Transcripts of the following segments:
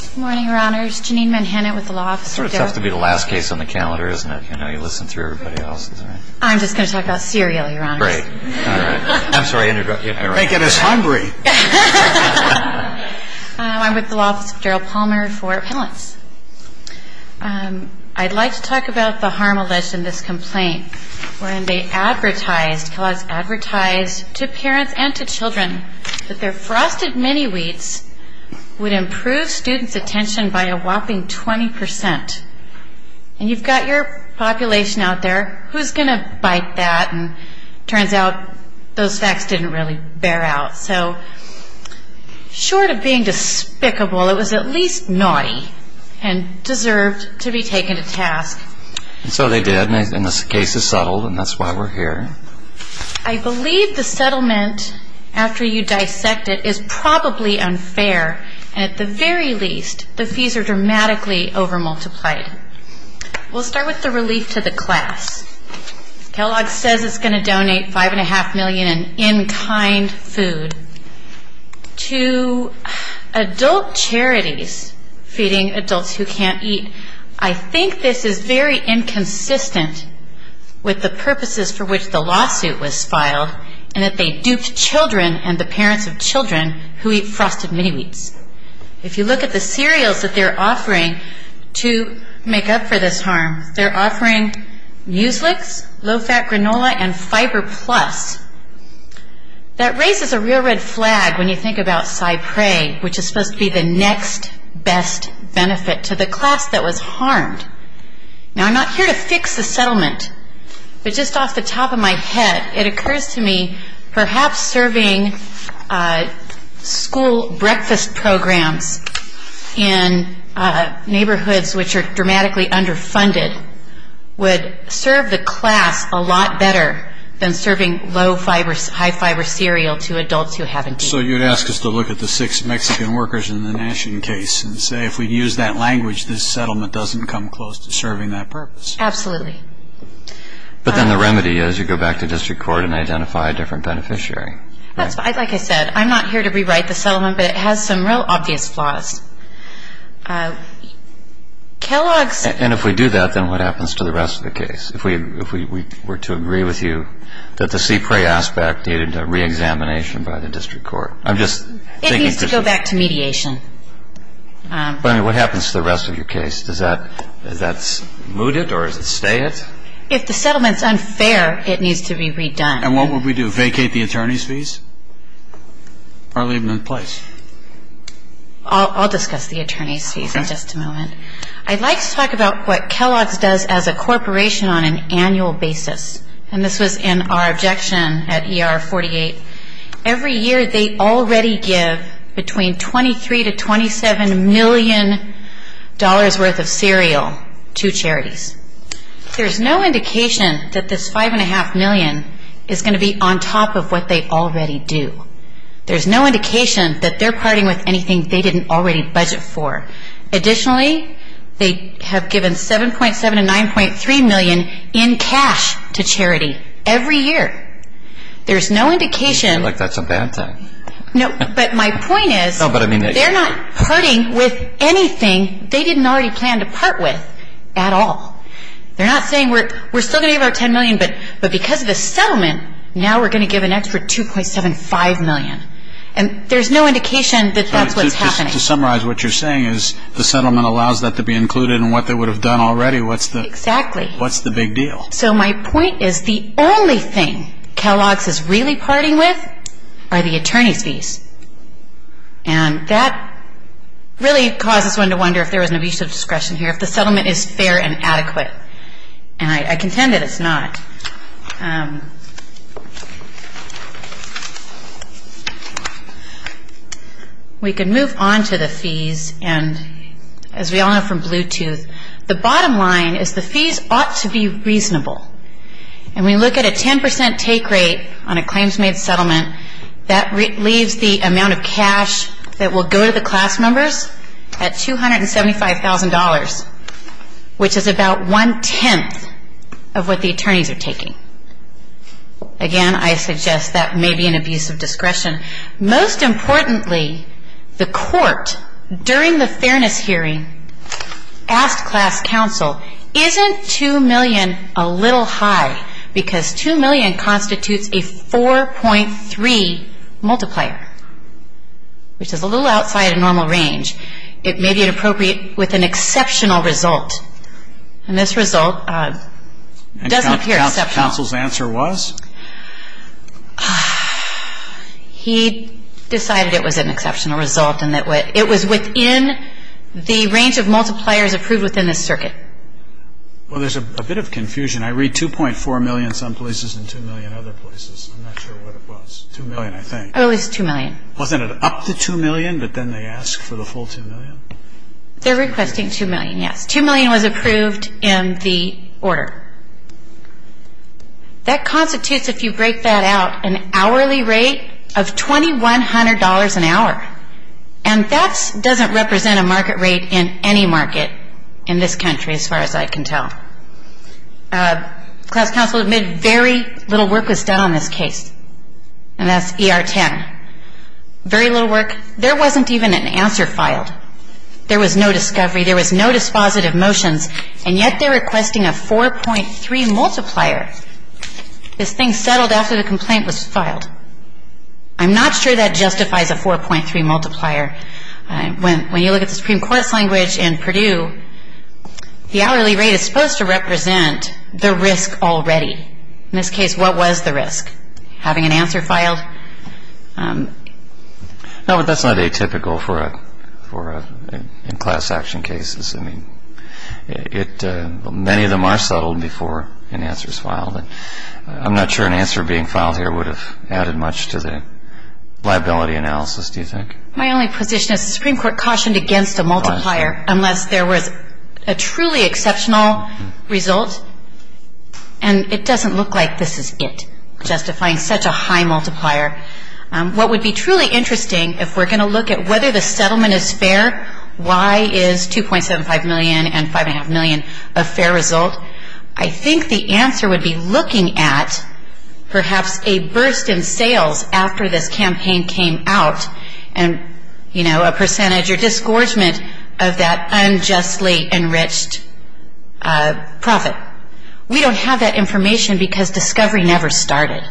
Good morning, Your Honors. Janine Manhattan with the Law Office of Daryl Palmer. It's sort of tough to be the last case on the calendar, isn't it? You listen through everybody else, isn't it? I'm just going to talk about cereal, Your Honors. Great. All right. I'm sorry. They get us hungry. I'm with the Law Office of Daryl Palmer for appellants. I'd like to talk about the harm alleged in this complaint, wherein they advertised to parents and to children that their frosted mini-wheats would improve students' attention by a whopping 20%. And you've got your population out there. Who's going to bite that? And it turns out those facts didn't really bear out. So short of being despicable, it was at least naughty and deserved to be taken to task. And so they did, and the case is settled, and that's why we're here. I believe the settlement, after you dissect it, is probably unfair. And at the very least, the fees are dramatically over-multiplied. We'll start with the relief to the class. Kellogg's says it's going to donate $5.5 million in in-kind food to adult charities feeding adults who can't eat. I think this is very inconsistent with the purposes for which the lawsuit was filed and that they duped children and the parents of children who eat frosted mini-wheats. If you look at the cereals that they're offering to make up for this harm, they're offering Mueslix, low-fat granola, and Fiber Plus. That raises a real red flag when you think about Cypre, which is supposed to be the next best benefit to the class that was harmed. Now, I'm not here to fix the settlement, but just off the top of my head, it occurs to me perhaps serving school breakfast programs in neighborhoods which are dramatically underfunded would serve the class a lot better than serving low-fiber, high-fiber cereal to adults who haven't eaten. So you'd ask us to look at the six Mexican workers in the Nashian case and say, if we use that language, this settlement doesn't come close to serving that purpose. Absolutely. But then the remedy is you go back to district court and identify a different beneficiary. Like I said, I'm not here to rewrite the settlement, but it has some real obvious flaws. And if we do that, then what happens to the rest of the case? If we were to agree with you that the Cypre aspect needed a reexamination by the district court. It needs to go back to mediation. But I mean, what happens to the rest of your case? Does that smooth it or does it stay it? If the settlement's unfair, it needs to be redone. And what would we do, vacate the attorney's fees or leave them in place? I'll discuss the attorney's fees in just a moment. I'd like to talk about what Kellogg's does as a corporation on an annual basis. And this was in our objection at ER 48. Every year they already give between $23 million to $27 million worth of cereal to charities. There's no indication that this $5.5 million is going to be on top of what they already do. There's no indication that they're parting with anything they didn't already budget for. Additionally, they have given $7.7 and $9.3 million in cash to charity every year. There's no indication. I feel like that's a bad thing. No, but my point is they're not parting with anything they didn't already plan to part with at all. They're not saying we're still going to give out $10 million, but because of the settlement, now we're going to give an extra $2.75 million. And there's no indication that that's what's happening. To summarize what you're saying is the settlement allows that to be included in what they would have done already. Exactly. What's the big deal? So my point is the only thing Kellogg's is really parting with are the attorney's fees. And that really causes one to wonder if there was an abuse of discretion here, if the settlement is fair and adequate. And I contend that it's not. We can move on to the fees. And as we all know from Bluetooth, the bottom line is the fees ought to be reasonable. And we look at a 10% take rate on a claims-made settlement, that leaves the amount of cash that will go to the class members at $275,000, which is about one-tenth of what the attorneys are taking. Again, I suggest that may be an abuse of discretion. Most importantly, the court, during the fairness hearing, asked class counsel, isn't $2 million a little high? Because $2 million constitutes a 4.3 multiplier, which is a little outside of normal range. It may be inappropriate with an exceptional result. And this result doesn't appear exceptional. And counsel's answer was? He decided it was an exceptional result in that way. It was within the range of multipliers approved within this circuit. Well, there's a bit of confusion. I read $2.4 million some places and $2 million other places. I'm not sure what it was. $2 million, I think. At least $2 million. Wasn't it up to $2 million, but then they asked for the full $2 million? They're requesting $2 million, yes. $2 million was approved in the order. That constitutes, if you break that out, an hourly rate of $2,100 an hour. And that doesn't represent a market rate in any market in this country, as far as I can tell. Class counsel admitted very little work was done on this case. And that's ER 10. Very little work. There wasn't even an answer filed. There was no discovery. There was no dispositive motions. And yet they're requesting a 4.3 multiplier. This thing settled after the complaint was filed. I'm not sure that justifies a 4.3 multiplier. When you look at the Supreme Court's language in Purdue, the hourly rate is supposed to represent the risk already. In this case, what was the risk? Having an answer filed? No, but that's not atypical in class action cases. Many of them are settled before an answer is filed. I'm not sure an answer being filed here would have added much to the liability analysis, do you think? My only position is the Supreme Court cautioned against a multiplier unless there was a truly exceptional result. And it doesn't look like this is it, justifying such a high multiplier. What would be truly interesting, if we're going to look at whether the settlement is fair, why is $2.75 million and $5.5 million a fair result? I think the answer would be looking at perhaps a burst in sales after this campaign came out, and a percentage or disgorgement of that unjustly enriched profit. We don't have that information because discovery never started.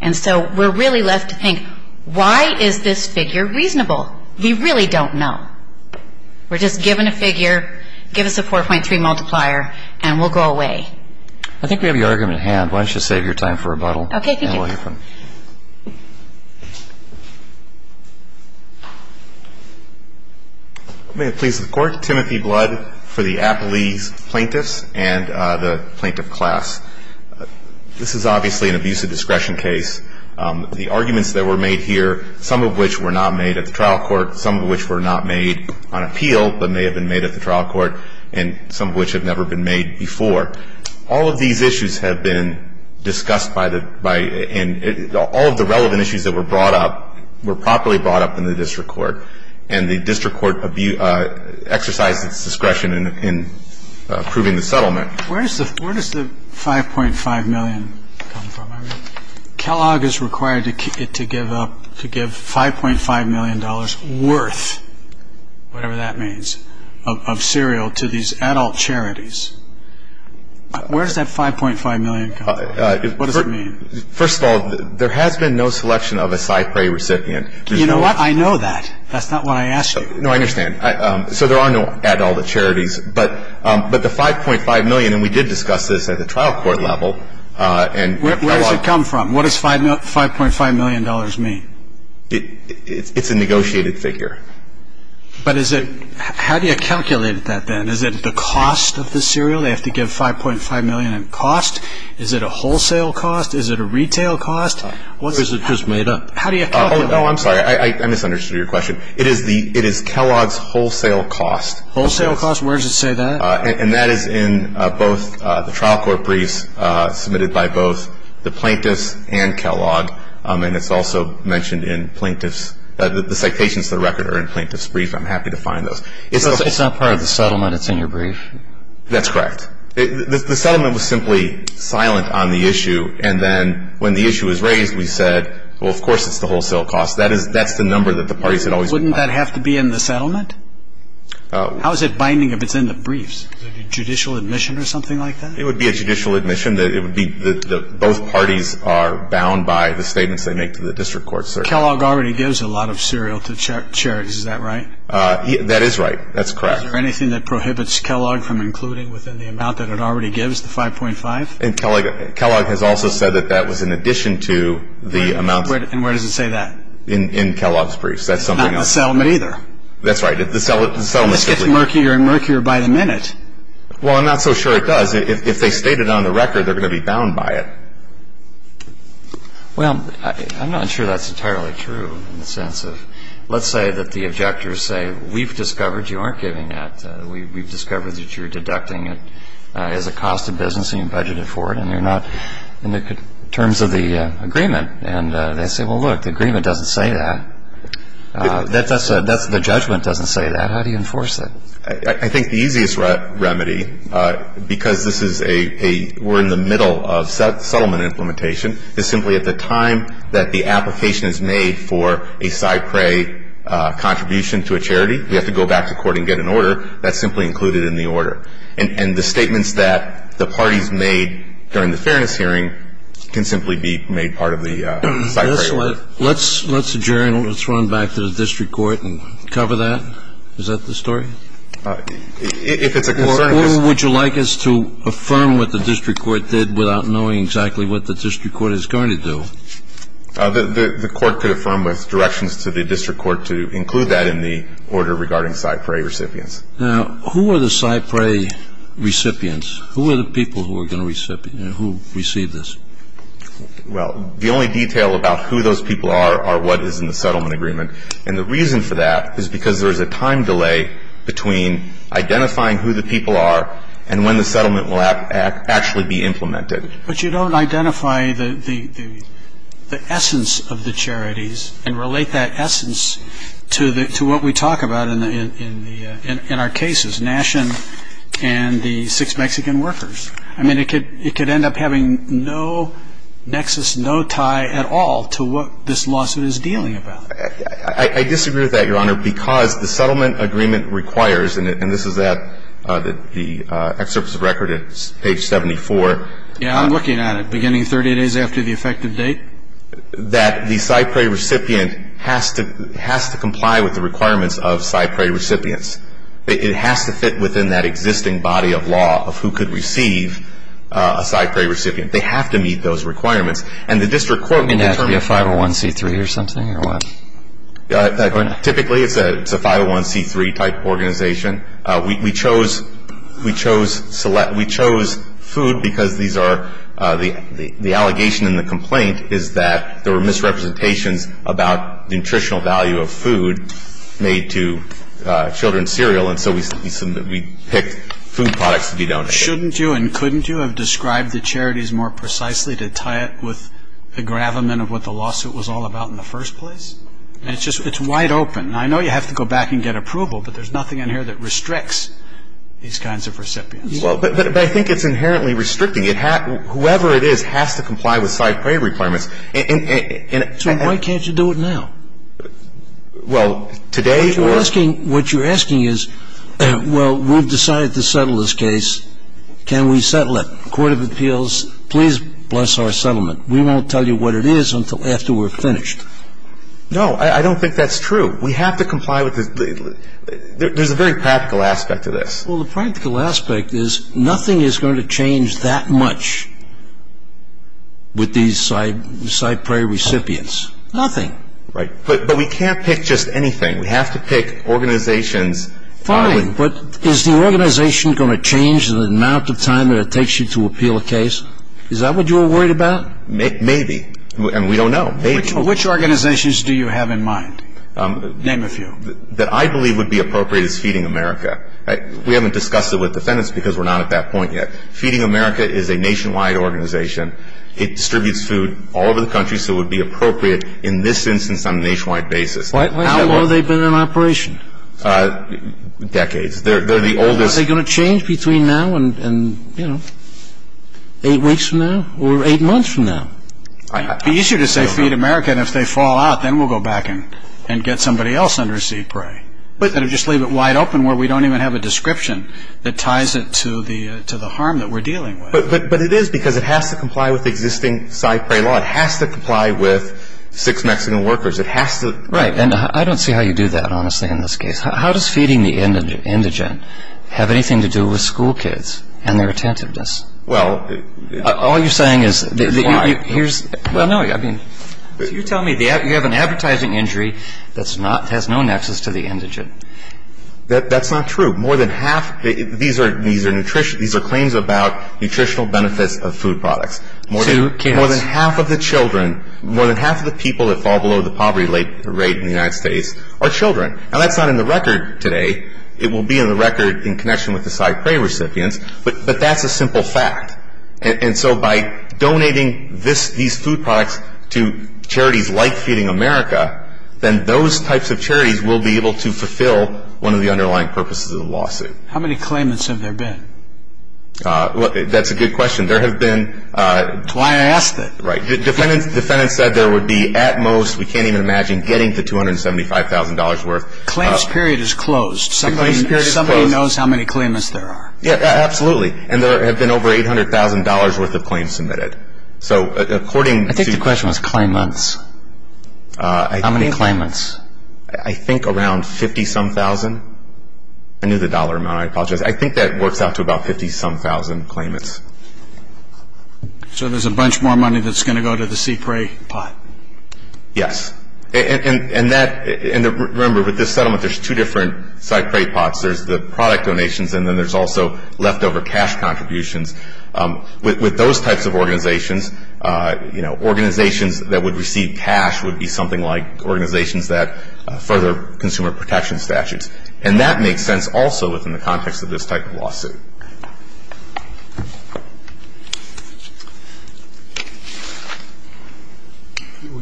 And so we're really left to think, why is this figure reasonable? We really don't know. We're just given a figure, give us a 4.3 multiplier, and we'll go away. I think we have your argument at hand. Why don't you save your time for rebuttal. Okay, thank you. And we'll hear from you. May it please the Court. Timothy Blood for the Appalese plaintiffs and the plaintiff class. This is obviously an abusive discretion case. The arguments that were made here, some of which were not made at the trial court, some of which were not made on appeal, but may have been made at the trial court, and some of which have never been made before. All of these issues have been discussed by the – and all of the relevant issues that were brought up were properly brought up in the district court. And the district court exercised its discretion in approving the settlement. Where does the 5.5 million come from? Kellogg is required to give up – to give $5.5 million worth, whatever that means, of cereal to these adult charities. Where does that 5.5 million come from? What does it mean? First of all, there has been no selection of a Cypre recipient. You know what? I know that. That's not what I asked you. No, I understand. So there are no adult charities, but the 5.5 million, and we did discuss this at the trial court level, and Kellogg – Where does it come from? What does $5.5 million mean? It's a negotiated figure. But is it – how do you calculate that then? Is it the cost of the cereal? They have to give $5.5 million in cost. Is it a wholesale cost? Is it a retail cost? Or is it just made up? How do you calculate that? Oh, no, I'm sorry. I misunderstood your question. It is the – it is Kellogg's wholesale cost. Wholesale cost? Where does it say that? And that is in both the trial court briefs submitted by both the plaintiffs and Kellogg, and it's also mentioned in plaintiffs – the citations to the record are in plaintiffs' briefs. I'm happy to find those. It's not part of the settlement. It's in your brief. That's correct. The settlement was simply silent on the issue, and then when the issue was raised, we said, well, of course it's the wholesale cost. That is – that's the number that the parties had always – Wouldn't that have to be in the settlement? How is it binding if it's in the briefs? Judicial admission or something like that? It would be a judicial admission. It would be – both parties are bound by the statements they make to the district court, sir. Kellogg already gives a lot of cereal to charities. Is that right? That is right. That's correct. Is there anything that prohibits Kellogg from including within the amount that it already gives, the 5.5? And Kellogg has also said that that was in addition to the amount – And where does it say that? In Kellogg's briefs. That's something – Not in the settlement either. That's right. The settlement – This gets murkier and murkier by the minute. Well, I'm not so sure it does. If they state it on the record, they're going to be bound by it. Well, I'm not sure that's entirely true in the sense of – let's say that the objectors say, we've discovered you aren't giving it. We've discovered that you're deducting it as a cost of business and you budgeted for it, and you're not – in terms of the agreement. And they say, well, look, the agreement doesn't say that. The judgment doesn't say that. How do you enforce it? I think the easiest remedy, because this is a – we're in the middle of settlement implementation, is simply at the time that the application is made for a SIPRE contribution to a charity, we have to go back to court and get an order. That's simply included in the order. And the statements that the parties made during the fairness hearing can simply be made part of the SIPRE order. Let's adjourn. Let's run back to the district court and cover that. Is that the story? If it's a concern – Or who would you like us to affirm what the district court did without knowing exactly what the district court is going to do? The court could affirm with directions to the district court to include that in the order regarding SIPRE recipients. Now, who are the SIPRE recipients? Who are the people who are going to – who receive this? Well, the only detail about who those people are are what is in the settlement agreement. And the reason for that is because there is a time delay between identifying who the people are and when the settlement will actually be implemented. But you don't identify the essence of the charities and relate that essence to what we talk about in our cases, Nashen and the six Mexican workers. I mean, it could end up having no nexus, no tie at all to what this lawsuit is dealing about. I disagree with that, Your Honor, because the settlement agreement requires, and this is at the excerpts of record at page 74 – Yeah, I'm looking at it. Beginning 30 days after the effective date? That the SIPRE recipient has to comply with the requirements of SIPRE recipients. It has to fit within that existing body of law of who could receive a SIPRE recipient. They have to meet those requirements. And the district court can determine – Wouldn't that be a 501c3 or something or what? Typically, it's a 501c3-type organization. We chose food because these are – the allegation in the complaint is that there were misrepresentations about the nutritional value of food made to children's cereal, and so we picked food products to be donated. Shouldn't you and couldn't you have described the charities more precisely to tie it with the gravamen of what the lawsuit was all about in the first place? And it's just – it's wide open. And I know you have to go back and get approval, but there's nothing in here that restricts these kinds of recipients. But I think it's inherently restricting. Whoever it is has to comply with SIPRE requirements. So why can't you do it now? Well, today – What you're asking is, well, we've decided to settle this case. Can we settle it? Court of Appeals, please bless our settlement. We won't tell you what it is until after we're finished. No, I don't think that's true. We have to comply with – there's a very practical aspect to this. Well, the practical aspect is nothing is going to change that much with these SIPRE recipients. Nothing. Right. But we can't pick just anything. We have to pick organizations. Fine. But is the organization going to change the amount of time that it takes you to appeal a case? Is that what you were worried about? Maybe. And we don't know. Maybe. Which organizations do you have in mind? Name a few. That I believe would be appropriate is Feeding America. We haven't discussed it with defendants because we're not at that point yet. Feeding America is a nationwide organization. It distributes food all over the country, so it would be appropriate in this instance on a nationwide basis. How long have they been in operation? Decades. They're the oldest – Are they going to change between now and, you know, eight weeks from now or eight months from now? It would be easier to say Feed America, and if they fall out, then we'll go back and get somebody else under SIPRE. But just leave it wide open where we don't even have a description that ties it to the harm that we're dealing with. But it is because it has to comply with existing SIPRE law. It has to comply with six Mexican workers. It has to – Right. And I don't see how you do that, honestly, in this case. How does feeding the indigent have anything to do with school kids and their attentiveness? Well – All you're saying is – Why? Well, no. You're telling me you have an advertising injury that has no nexus to the indigent. That's not true. More than half – these are claims about nutritional benefits of food products. To kids. More than half of the children – more than half of the people that fall below the poverty rate in the United States are children. Now, that's not in the record today. It will be in the record in connection with the SIPRE recipients, but that's a simple fact. And so by donating these food products to charities like Feeding America, then those types of charities will be able to fulfill one of the underlying purposes of the lawsuit. How many claimants have there been? That's a good question. There have been – That's why I asked that. Right. The defendant said there would be at most – we can't even imagine getting the $275,000 worth. Claims period is closed. Somebody knows how many claimants there are. Yeah, absolutely. And there have been over $800,000 worth of claims submitted. So according to – I think the question was claimants. How many claimants? I think around 50-some-thousand. I knew the dollar amount. I apologize. I think that works out to about 50-some-thousand claimants. So there's a bunch more money that's going to go to the SIPRE pot. Yes. And that – and remember, with this settlement, there's two different SIPRE pots. There's the product donations, and then there's also leftover cash contributions. With those types of organizations, you know, organizations that would receive cash would be something like organizations that further consumer protection statutes. And that makes sense also within the context of this type of lawsuit.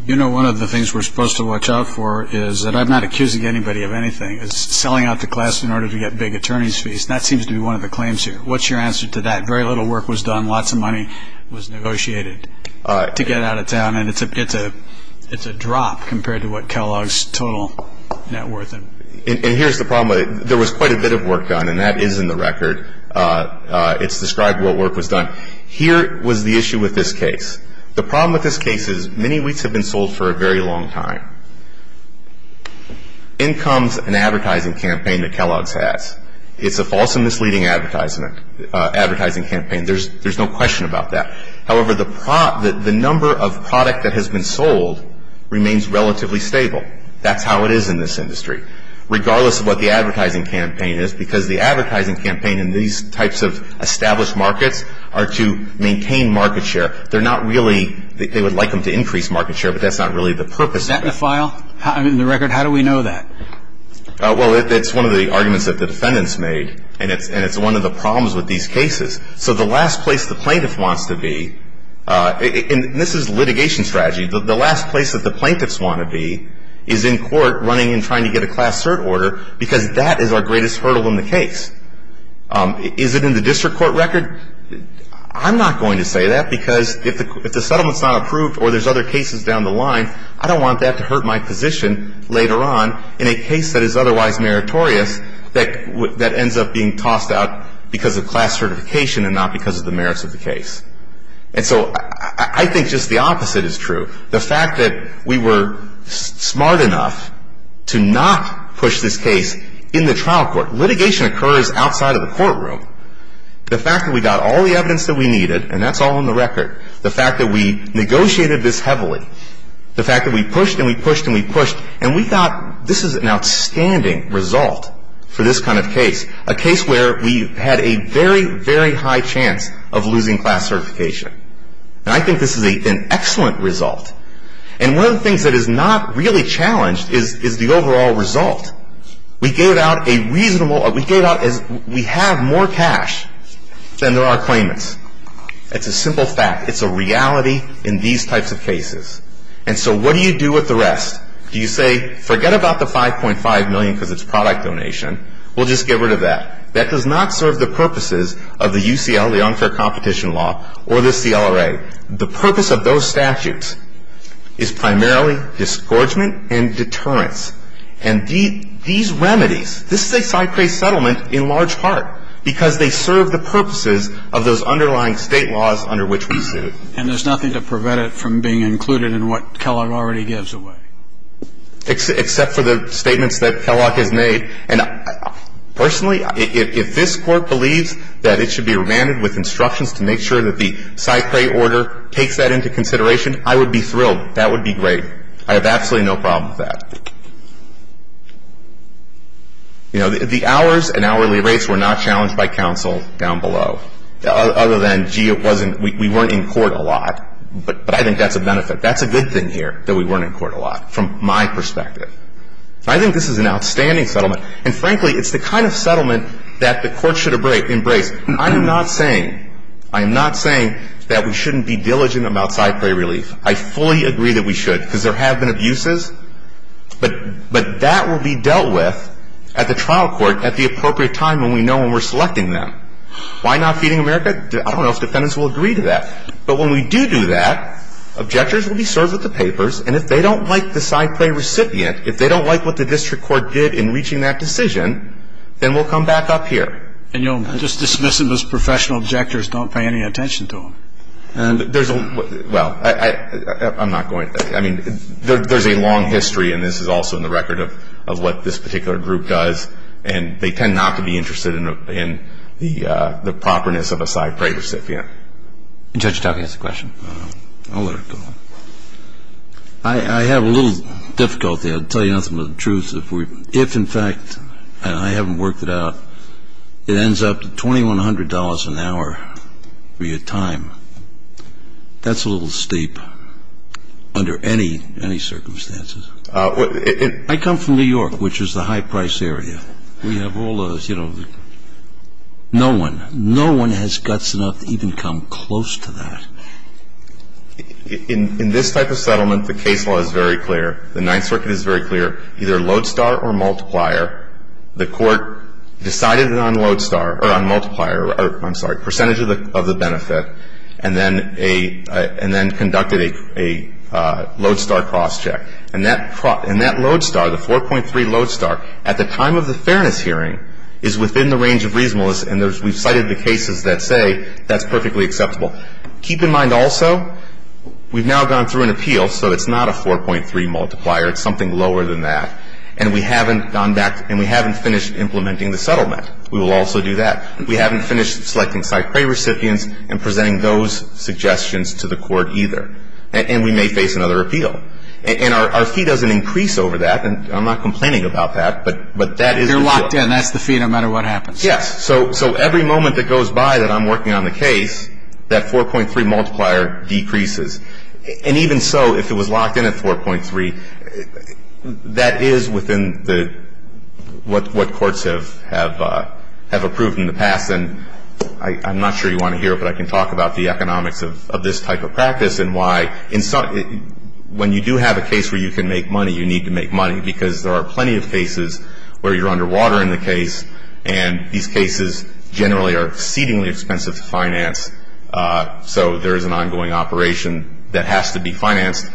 You know, one of the things we're supposed to watch out for is that I'm not accusing anybody of anything. It's selling out the class in order to get big attorney's fees, and that seems to be one of the claims here. What's your answer to that? Very little work was done. Lots of money was negotiated to get it out of town, and it's a drop compared to what Kellogg's total net worth is. And here's the problem. There was quite a bit of work done, and that is in the record. It's described what work was done. Here was the issue with this case. The problem with this case is many wheats have been sold for a very long time. In comes an advertising campaign that Kellogg's has. It's a false and misleading advertising campaign. There's no question about that. However, the number of product that has been sold remains relatively stable. That's how it is in this industry, regardless of what the advertising campaign is, because the advertising campaign in these types of established markets are to maintain market share. They're not really they would like them to increase market share, but that's not really the purpose. Is that in the file? In the record, how do we know that? Well, it's one of the arguments that the defendants made, and it's one of the problems with these cases. So the last place the plaintiff wants to be, and this is litigation strategy, the last place that the plaintiffs want to be is in court running and trying to get a class cert order because that is our greatest hurdle in the case. Is it in the district court record? I'm not going to say that because if the settlement's not approved or there's other cases down the line, I don't want that to hurt my position later on in a case that is otherwise meritorious that ends up being tossed out because of class certification and not because of the merits of the case. And so I think just the opposite is true. The fact that we were smart enough to not push this case in the trial court. Litigation occurs outside of the courtroom. The fact that we got all the evidence that we needed, and that's all in the record. The fact that we negotiated this heavily, the fact that we pushed and we pushed and we pushed, and we thought this is an outstanding result for this kind of case, a case where we had a very, very high chance of losing class certification. And I think this is an excellent result. And one of the things that is not really challenged is the overall result. We gave out a reasonable or we gave out as we have more cash than there are claimants. It's a simple fact. It's a reality in these types of cases. And so what do you do with the rest? Do you say, forget about the $5.5 million because it's product donation. We'll just get rid of that. That does not serve the purposes of the UCL, the unfair competition law, or the CLRA. The purpose of those statutes is primarily disgorgement and deterrence. And these remedies, this is a side case settlement in large part because they serve the purposes of those underlying state laws under which we sued. And there's nothing to prevent it from being included in what Kellogg already gives away? Except for the statements that Kellogg has made. And personally, if this Court believes that it should be remanded with instructions to make sure that the Cy Cray order takes that into consideration, I would be thrilled. That would be great. I have absolutely no problem with that. You know, the hours and hourly rates were not challenged by counsel down below. Other than, gee, it wasn't, we weren't in court a lot. But I think that's a benefit. That's a good thing here that we weren't in court a lot from my perspective. I think this is an outstanding settlement. And frankly, it's the kind of settlement that the Court should embrace. I am not saying, I am not saying that we shouldn't be diligent about Cy Cray relief. I fully agree that we should because there have been abuses. But that will be dealt with at the trial court at the appropriate time when we know when we're selecting them. Why not Feeding America? I don't know if defendants will agree to that. But when we do do that, objectors will be served with the papers. And if they don't like the Cy Cray recipient, if they don't like what the district court did in reaching that decision, then we'll come back up here. And you'll just dismiss them as professional objectors, don't pay any attention to them. And there's a, well, I'm not going to. I mean, there's a long history, and this is also in the record, of what this particular group does. And they tend not to be interested in the properness of a Cy Cray recipient. And Judge Talke has a question. I'll let her go. I have a little difficulty. I'll tell you nothing but the truth. If, in fact, and I haven't worked it out, it ends up at $2,100 an hour for your time, that's a little steep under any circumstances. I come from New York, which is the high-price area. We have all the, you know, no one, no one has guts enough to even come close to that. In this type of settlement, the case law is very clear. The Ninth Circuit is very clear. Either lodestar or multiplier, the court decided it on lodestar, or on multiplier, or I'm sorry, percentage of the benefit, and then conducted a lodestar crosscheck. And that lodestar, the 4.3 lodestar, at the time of the fairness hearing, is within the range of reasonableness. And we've cited the cases that say that's perfectly acceptable. Keep in mind also, we've now gone through an appeal, so it's not a 4.3 multiplier. It's something lower than that. And we haven't gone back, and we haven't finished implementing the settlement. We will also do that. We haven't finished selecting side prey recipients and presenting those suggestions to the court either. And we may face another appeal. And our fee doesn't increase over that, and I'm not complaining about that, but that is the deal. You're locked in. That's the fee no matter what happens. Yes. So every moment that goes by that I'm working on the case, that 4.3 multiplier decreases. And even so, if it was locked in at 4.3, that is within what courts have approved in the past. And I'm not sure you want to hear it, but I can talk about the economics of this type of practice and why, when you do have a case where you can make money, you need to make money, because there are plenty of cases where you're underwater in the case, and these cases generally are exceedingly expensive to finance. So there is an ongoing operation that has to be financed,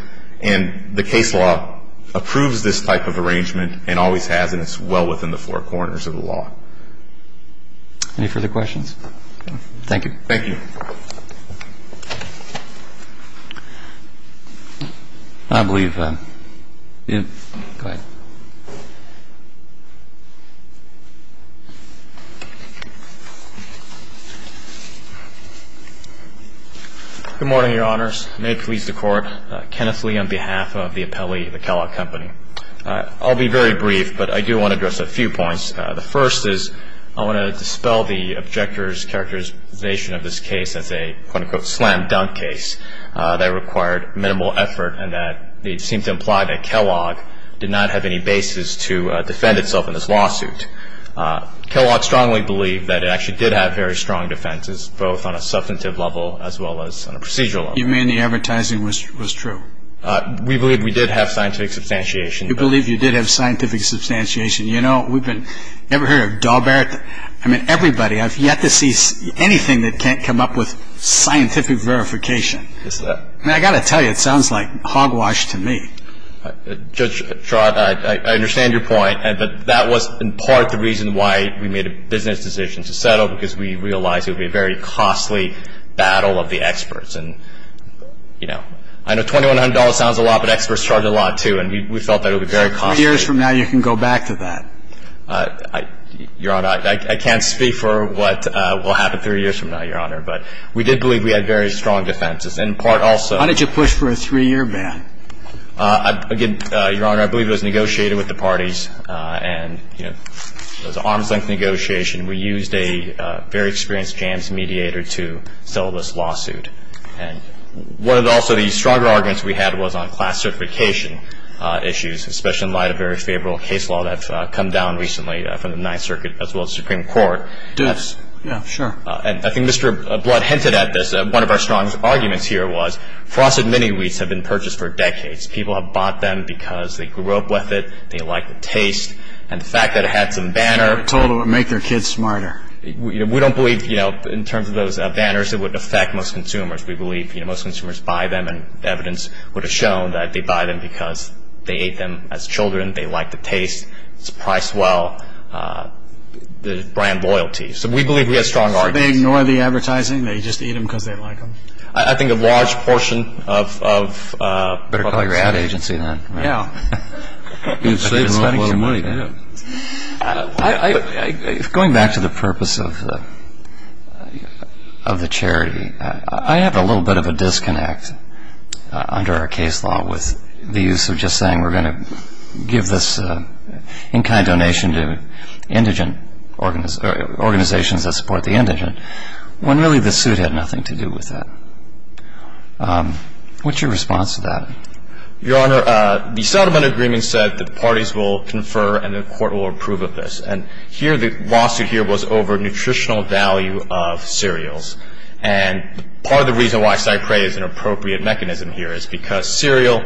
and the case law approves this type of arrangement and always has, and it's well within the four corners of the law. Any further questions? Thank you. Thank you. I believe, go ahead. Good morning, Your Honors. May it please the Court, Kenneth Lee on behalf of the appellee, the Kellogg Company. I'll be very brief, but I do want to address a few points. The first is I want to dispel the objector's characterization of this case as a case of fraud. This is a quote-unquote slam-dunk case that required minimal effort and that seemed to imply that Kellogg did not have any basis to defend itself in this lawsuit. Kellogg strongly believed that it actually did have very strong defenses, both on a substantive level as well as on a procedural level. You mean the advertising was true? We believe we did have scientific substantiation. You believe you did have scientific substantiation. You know, we've been, have you ever heard of Dalbert? I mean, everybody, I've yet to see anything that can't come up with scientific verification. I mean, I've got to tell you, it sounds like hogwash to me. Judge Schwartz, I understand your point, but that was in part the reason why we made a business decision to settle because we realized it would be a very costly battle of the experts. And, you know, I know $2,100 sounds a lot, but experts charge a lot, too, and we felt that it would be very costly. Three years from now, you can go back to that. Your Honor, I can't speak for what will happen three years from now, Your Honor, but we did believe we had very strong defenses, and in part also. How did you push for a three-year ban? Again, Your Honor, I believe it was negotiated with the parties, and, you know, it was an arm's-length negotiation. We used a very experienced jams mediator to settle this lawsuit. And one of the also the stronger arguments we had was on class certification issues, especially in light of very favorable case law that's come down recently from the Ninth Circuit as well as the Supreme Court. Yes. Yeah, sure. And I think Mr. Blood hinted at this. One of our strongest arguments here was frosted mini-wheats have been purchased for decades. People have bought them because they grew up with it, they like the taste, and the fact that it had some banner. They were told it would make their kids smarter. We don't believe, you know, in terms of those banners, it would affect most consumers. We believe, you know, most consumers buy them, and evidence would have shown that they buy them because they ate them as children, they like the taste, it's priced well, the brand loyalty. So we believe we have strong arguments. So they ignore the advertising? They just eat them because they like them? I think a large portion of public safety. Better call your ad agency then. Yeah. You'd save them a lot of money, yeah. Going back to the purpose of the charity, I have a little bit of a disconnect under our case law with the use of just saying we're going to give this in-kind donation to indigent organizations that support the indigent, when really the suit had nothing to do with that. What's your response to that? Your Honor, the settlement agreement said the parties will confer and the court will approve of this. And here the lawsuit here was over nutritional value of cereals. And part of the reason why Cyprea is an appropriate mechanism here is because cereal,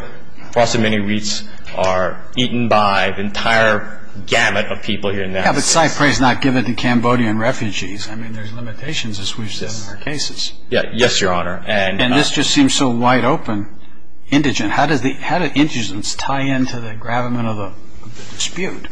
across the many reeds, are eaten by the entire gamut of people here now. Yeah, but Cyprea is not given to Cambodian refugees. I mean, there's limitations, as we've said in our cases. Yes, Your Honor. And this just seems so wide open, indigent. How do indigents tie into the gravamen of the dispute?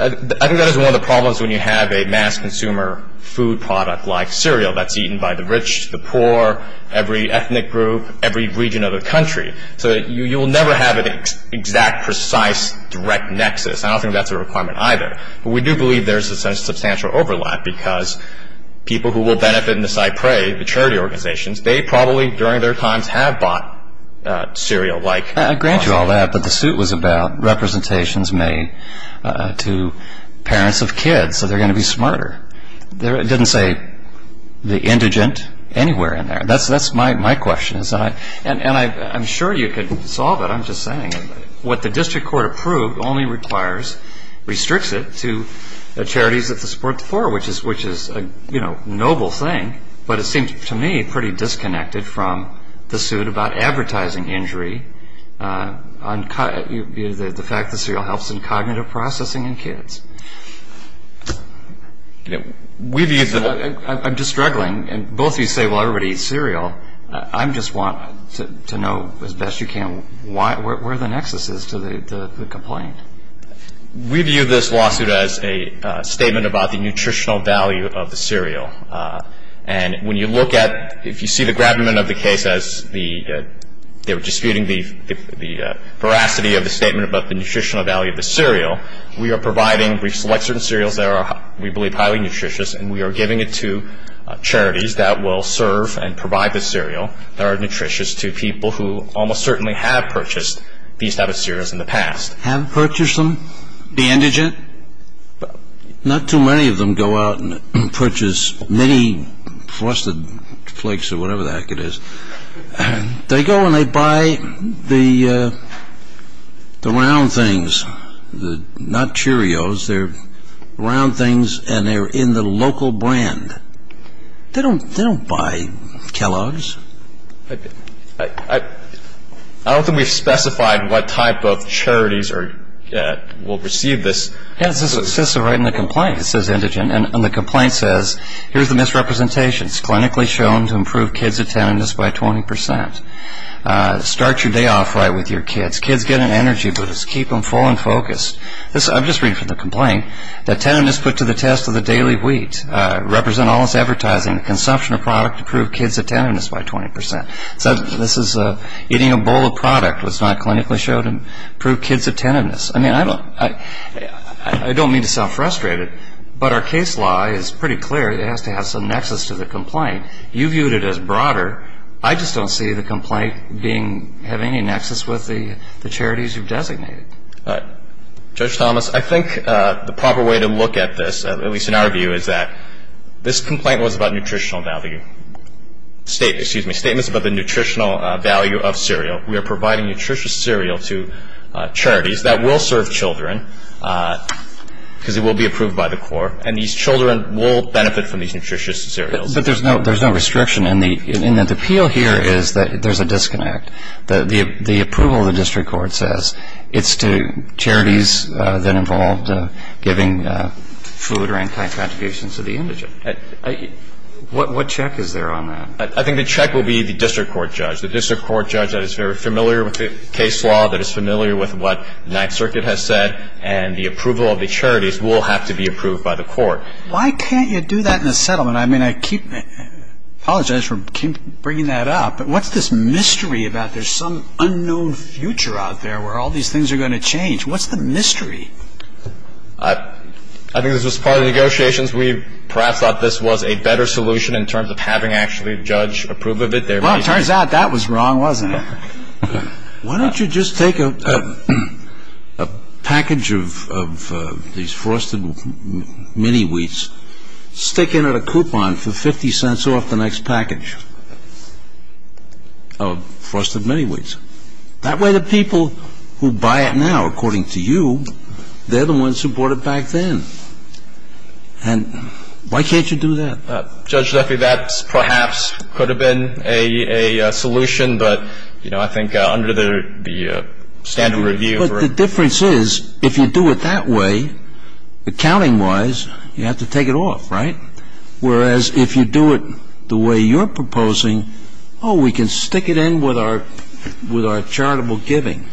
I think that is one of the problems when you have a mass consumer food product like cereal that's eaten by the rich, the poor, every ethnic group, every region of the country. So you will never have an exact, precise, direct nexus. I don't think that's a requirement either. But we do believe there's a substantial overlap because people who will benefit in the Cyprea, the charity organizations, they probably during their times have bought cereal-like products. I grant you all that, but the suit was about representations made to parents of kids so they're going to be smarter. It didn't say the indigent anywhere in there. That's my question. And I'm sure you could solve it. I'm just saying what the district court approved only requires, restricts it to the charities that support the poor, which is a noble thing. But it seems to me pretty disconnected from the suit about advertising injury, the fact that cereal helps in cognitive processing in kids. I'm just struggling. Both of you say, well, everybody eats cereal. I just want to know as best you can where the nexus is to the complaint. We view this lawsuit as a statement about the nutritional value of the cereal. And when you look at, if you see the gravamen of the case as the, they were disputing the veracity of the statement about the nutritional value of the cereal, we are providing, we select certain cereals that we believe are highly nutritious, and we are giving it to charities that will serve and provide the cereal that are nutritious to people who almost certainly have purchased these type of cereals in the past. Have purchased them? Be indigent? Not too many of them go out and purchase mini Frosted Flakes or whatever the heck it is. They go and they buy the round things, not Cheerios. They're round things, and they're in the local brand. They don't buy Kellogg's. I don't think we've specified what type of charities will receive this. It says so right in the complaint, it says indigent. And the complaint says, here's the misrepresentation. It's clinically shown to improve kids' attentiveness by 20 percent. Start your day off right with your kids. Kids get an energy boost. Keep them full and focused. I'm just reading from the complaint. Attentiveness put to the test of the daily wheat. Represent all this advertising. Consumption of product to prove kids' attentiveness by 20 percent. This is eating a bowl of product that's not clinically shown to prove kids' attentiveness. I mean, I don't mean to sound frustrated, but our case law is pretty clear. It has to have some nexus to the complaint. You viewed it as broader. I just don't see the complaint having any nexus with the charities you've designated. Judge Thomas, I think the proper way to look at this, at least in our view, is that this complaint was about nutritional value. Excuse me, statements about the nutritional value of cereal. We are providing nutritious cereal to charities that will serve children because it will be approved by the court, and these children will benefit from these nutritious cereals. But there's no restriction in that the appeal here is that there's a disconnect. The approval of the district court says it's to charities that involved giving food or any kind of contributions to the indigent. What check is there on that? I think the check will be the district court judge. The district court judge that is very familiar with the case law, that is familiar with what the Ninth Circuit has said, and the approval of the charities will have to be approved by the court. Why can't you do that in a settlement? I mean, I keep apologizing for bringing that up, but what's this mystery about there's some unknown future out there where all these things are going to change? What's the mystery? I think this was part of the negotiations. We perhaps thought this was a better solution in terms of having actually a judge approve of it. Well, it turns out that was wrong, wasn't it? Why don't you just take a package of these frosted mini-wheats, stick in at a coupon for 50 cents off the next package of frosted mini-wheats? That way the people who buy it now, according to you, they're the ones who bought it back then. And why can't you do that? Judge Zeffi, that perhaps could have been a solution, but, you know, I think under the standard review. But the difference is if you do it that way, accounting-wise, you have to take it off, right? Whereas if you do it the way you're proposing, oh, we can stick it in with our charitable giving,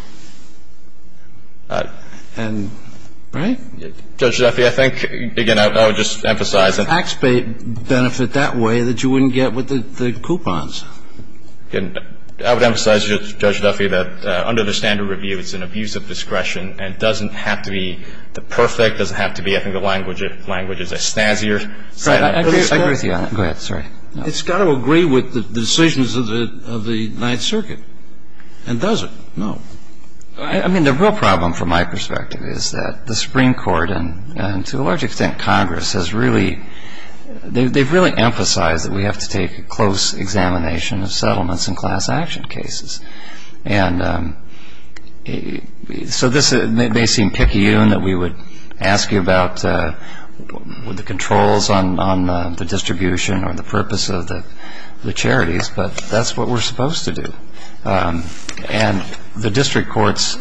right? Judge Zeffi, I think, again, I would just emphasize that. The facts benefit that way that you wouldn't get with the coupons. I would emphasize, Judge Zeffi, that under the standard review, it's an abuse of discretion and doesn't have to be the perfect, doesn't have to be, I think, the language is a snazzier. Right. I agree with you on that. Go ahead. Sorry. It's got to agree with the decisions of the Ninth Circuit. And does it? No. I mean, the real problem, from my perspective, is that the Supreme Court, and to a large extent Congress, has really emphasized that we have to take a close examination of settlements in class action cases. And so this may seem picky-uned that we would ask you about the controls on the distribution or the purpose of the charities, but that's what we're supposed to do. And the district courts,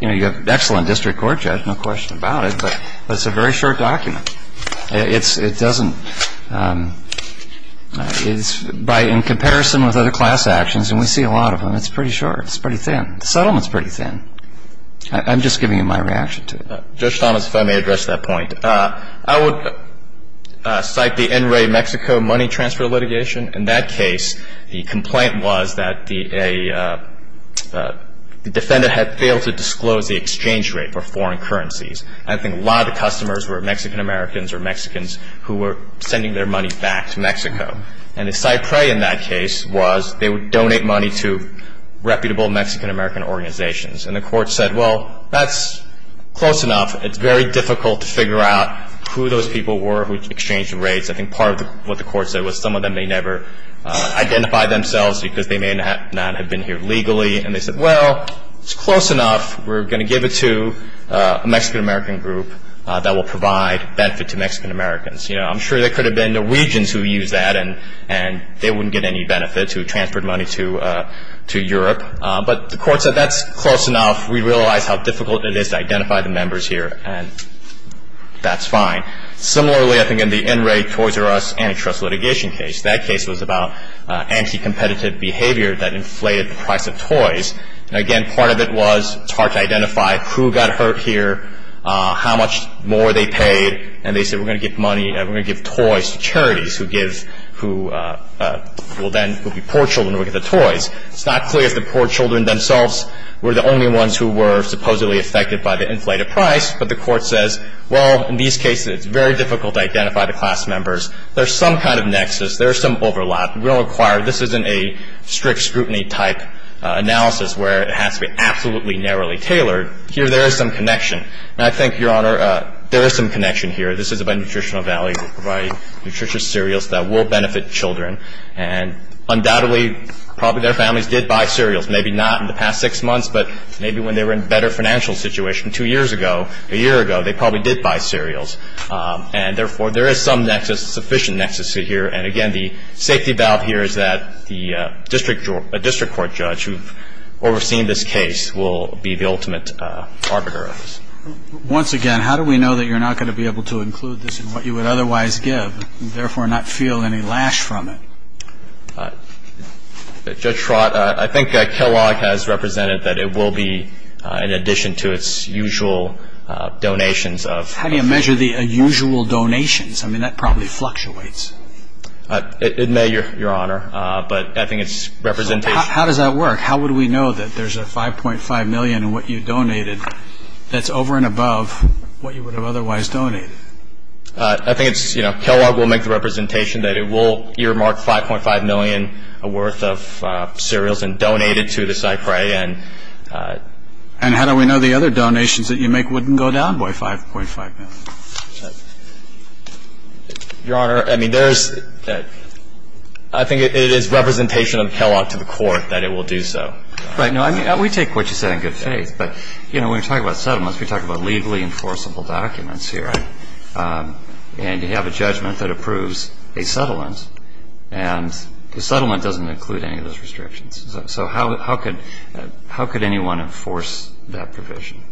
you know, you have an excellent district court judge, no question about it, but it's a very short document. It doesn't by in comparison with other class actions, and we see a lot of them, it's pretty short. It's pretty thin. The settlement's pretty thin. I'm just giving you my reaction to it. Judge Thomas, if I may address that point. I would cite the NREA Mexico money transfer litigation. In that case, the complaint was that the defendant had failed to disclose the exchange rate for foreign currencies. I think a lot of the customers were Mexican-Americans or Mexicans who were sending their money back to Mexico. And the side prey in that case was they would donate money to reputable Mexican-American organizations. And the court said, well, that's close enough. It's very difficult to figure out who those people were who exchanged the rates. I think part of what the court said was some of them may never identify themselves because they may not have been here legally. And they said, well, it's close enough. We're going to give it to a Mexican-American group that will provide benefit to Mexican-Americans. You know, I'm sure there could have been Norwegians who used that, and they wouldn't get any benefit to transfer money to Europe. But the court said that's close enough. We realize how difficult it is to identify the members here, and that's fine. Similarly, I think in the NRA Toys R Us antitrust litigation case, that case was about anti-competitive behavior that inflated the price of toys. And, again, part of it was it's hard to identify who got hurt here, how much more they paid, and they said we're going to give money, we're going to give toys to charities who give, who will then be poor children who will get the toys. It's not clear if the poor children themselves were the only ones who were supposedly affected by the inflated price, but the court says, well, in these cases, it's very difficult to identify the class members. There's some kind of nexus. There's some overlap. We don't require, this isn't a strict scrutiny type analysis where it has to be absolutely narrowly tailored. Here there is some connection. And I think, Your Honor, there is some connection here. This is about nutritional value. We provide nutritious cereals that will benefit children. And undoubtedly, probably their families did buy cereals. Maybe not in the past six months, but maybe when they were in a better financial situation two years ago, a year ago, they probably did buy cereals. And, therefore, there is some nexus, sufficient nexus here. And, again, the safety valve here is that the district court judge who has overseen this case will be the ultimate arbiter of this. Once again, how do we know that you're not going to be able to include this in what you would otherwise give, and therefore not feel any lash from it? Judge Schwartz, I think Kellogg has represented that it will be in addition to its usual donations of... How do you measure the usual donations? I mean, that probably fluctuates. It may, Your Honor, but I think its representation... How does that work? How would we know that there's a $5.5 million in what you donated that's over and above what you would have otherwise donated? I think it's, you know, Kellogg will make the representation that it will earmark $5.5 million worth of cereals and donate it to the Cypre and... And how do we know the other donations that you make wouldn't go down by $5.5 million? Your Honor, I mean, there's... I think it is representation of Kellogg to the court that it will do so. Right. No, I mean, we take what you said in good faith, but, you know, when we talk about settlements, we talk about legally enforceable documents here. Right. And you have a judgment that approves a settlement, and the settlement doesn't include any of those restrictions. So how could anyone enforce that provision?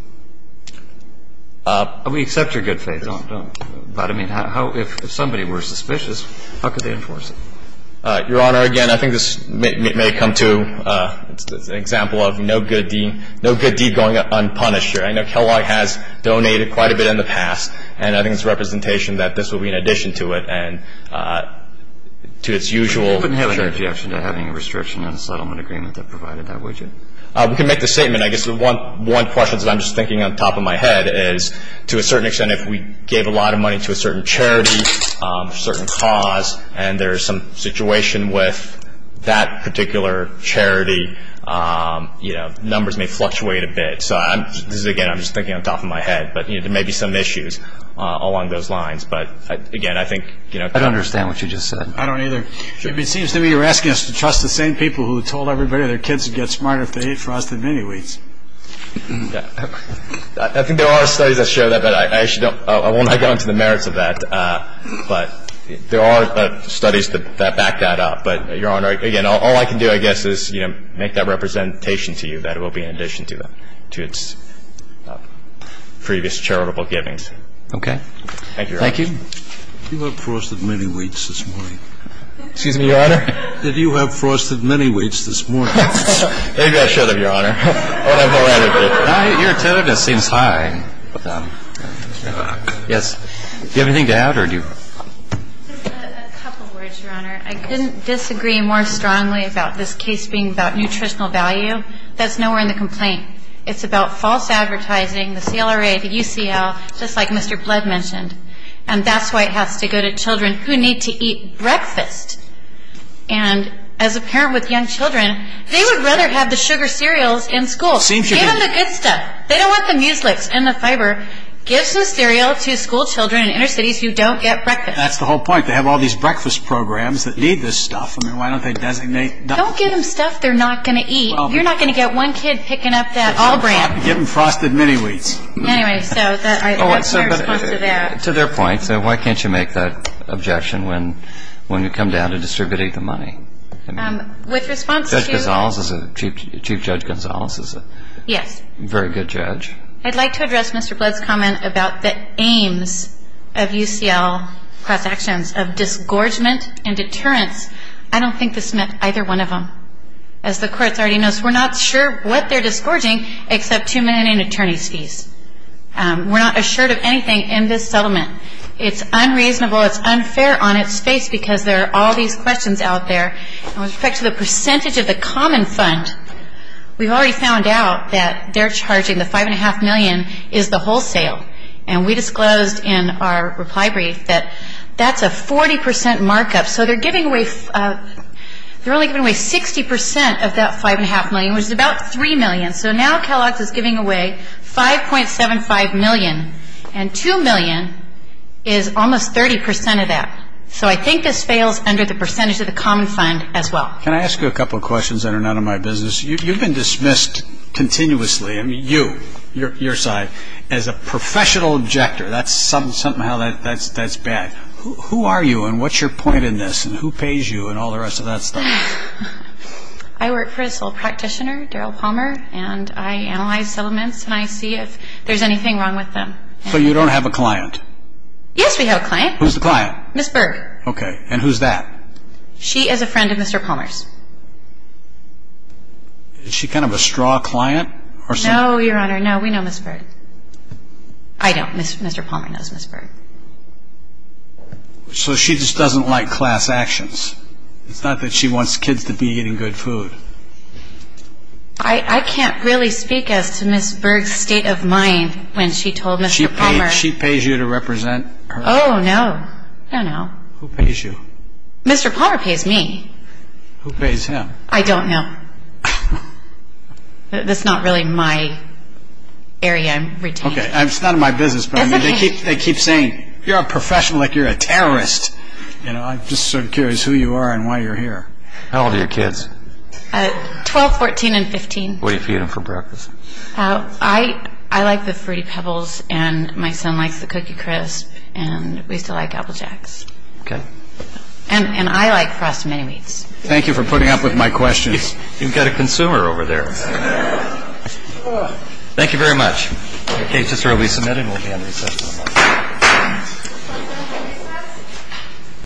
We accept your good faith, but, I mean, if somebody were suspicious, how could they enforce it? Your Honor, again, I think this may come to... I mean, no good deed going unpunished here. I know Kellogg has donated quite a bit in the past, and I think it's representation that this will be in addition to it and to its usual... You wouldn't have any objection to having a restriction on a settlement agreement that provided that, would you? We can make the statement. I guess the one question that I'm just thinking on top of my head is, to a certain extent, if we gave a lot of money to a certain charity, a certain cause, and there's some situation with that particular charity, you know, numbers may fluctuate a bit. So this is, again, I'm just thinking on top of my head. But, you know, there may be some issues along those lines. But, again, I think, you know... I don't understand what you just said. I don't either. It seems to me you're asking us to trust the same people who told everybody their kids would get smarter if they ate frosted mini-wheats. I think there are studies that show that, but I actually don't... I won't get into the merits of that. But there are studies that back that up. But, Your Honor, again, all I can do, I guess, is, you know, make that representation to you that it will be in addition to its previous charitable givings. Thank you, Your Honor. Thank you. Did you have frosted mini-wheats this morning? Excuse me, Your Honor? Did you have frosted mini-wheats this morning? Maybe I should have, Your Honor. I would have more attitude. Your attentiveness seems high. Mr. Rock. Yes. Do you have anything to add, or do you... A couple words, Your Honor. I couldn't disagree more strongly about this case being about nutritional value. That's nowhere in the complaint. It's about false advertising, the CLRA, the UCL, just like Mr. Blood mentioned. And that's why it has to go to children who need to eat breakfast. And as a parent with young children, they would rather have the sugar cereals in school. It seems to me... And the good stuff. They don't want the muselix and the fiber. Give some cereal to school children in inner cities who don't get breakfast. That's the whole point. They have all these breakfast programs that need this stuff. I mean, why don't they designate... Don't give them stuff they're not going to eat. You're not going to get one kid picking up that All-Brand. Give them frosted mini-wheats. Anyway, so that's my response to that. To their point, why can't you make that objection when you come down to distributing the money? With response to... Judge Gonzales is a... Chief Judge Gonzales is a... I'd like to address Mr. Blood's comment about the aims of UCL class actions, of disgorgement and deterrence. I don't think this meant either one of them. As the Court already knows, we're not sure what they're disgorging except 2 million in attorney's fees. We're not assured of anything in this settlement. It's unreasonable. It's unfair on its face because there are all these questions out there. With respect to the percentage of the common fund, we've already found out that they're charging the 5.5 million is the wholesale. And we disclosed in our reply brief that that's a 40% markup. So they're giving away... They're only giving away 60% of that 5.5 million, which is about 3 million. So now Kellogg's is giving away 5.75 million. And 2 million is almost 30% of that. So I think this fails under the percentage of the common fund as well. Can I ask you a couple of questions that are none of my business? You've been dismissed continuously, you, your side, as a professional objector. That's something that's bad. Who are you, and what's your point in this, and who pays you, and all the rest of that stuff? I work for this old practitioner, Darrell Palmer, and I analyze settlements, and I see if there's anything wrong with them. So you don't have a client? Yes, we have a client. Who's the client? Ms. Berg. Okay, and who's that? She is a friend of Mr. Palmer's. Is she kind of a straw client? No, Your Honor, no. We know Ms. Berg. I don't. Mr. Palmer knows Ms. Berg. So she just doesn't like class actions. It's not that she wants kids to be eating good food. She pays you to represent her? Oh, no. I don't know. Who pays you? Mr. Palmer pays me. Who pays him? I don't know. That's not really my area I'm retaining. Okay, it's none of my business, but they keep saying, you're a professional like you're a terrorist. I'm just sort of curious who you are and why you're here. How old are your kids? 12, 14, and 15. What do you feed them for breakfast? I like the Fruity Pebbles, and my son likes the Cookie Crisp, and we still like Apple Jacks. Okay. And I like Frosted Mini-Wheats. Thank you for putting up with my questions. You've got a consumer over there. Thank you very much. The case is to be submitted and will be on recess.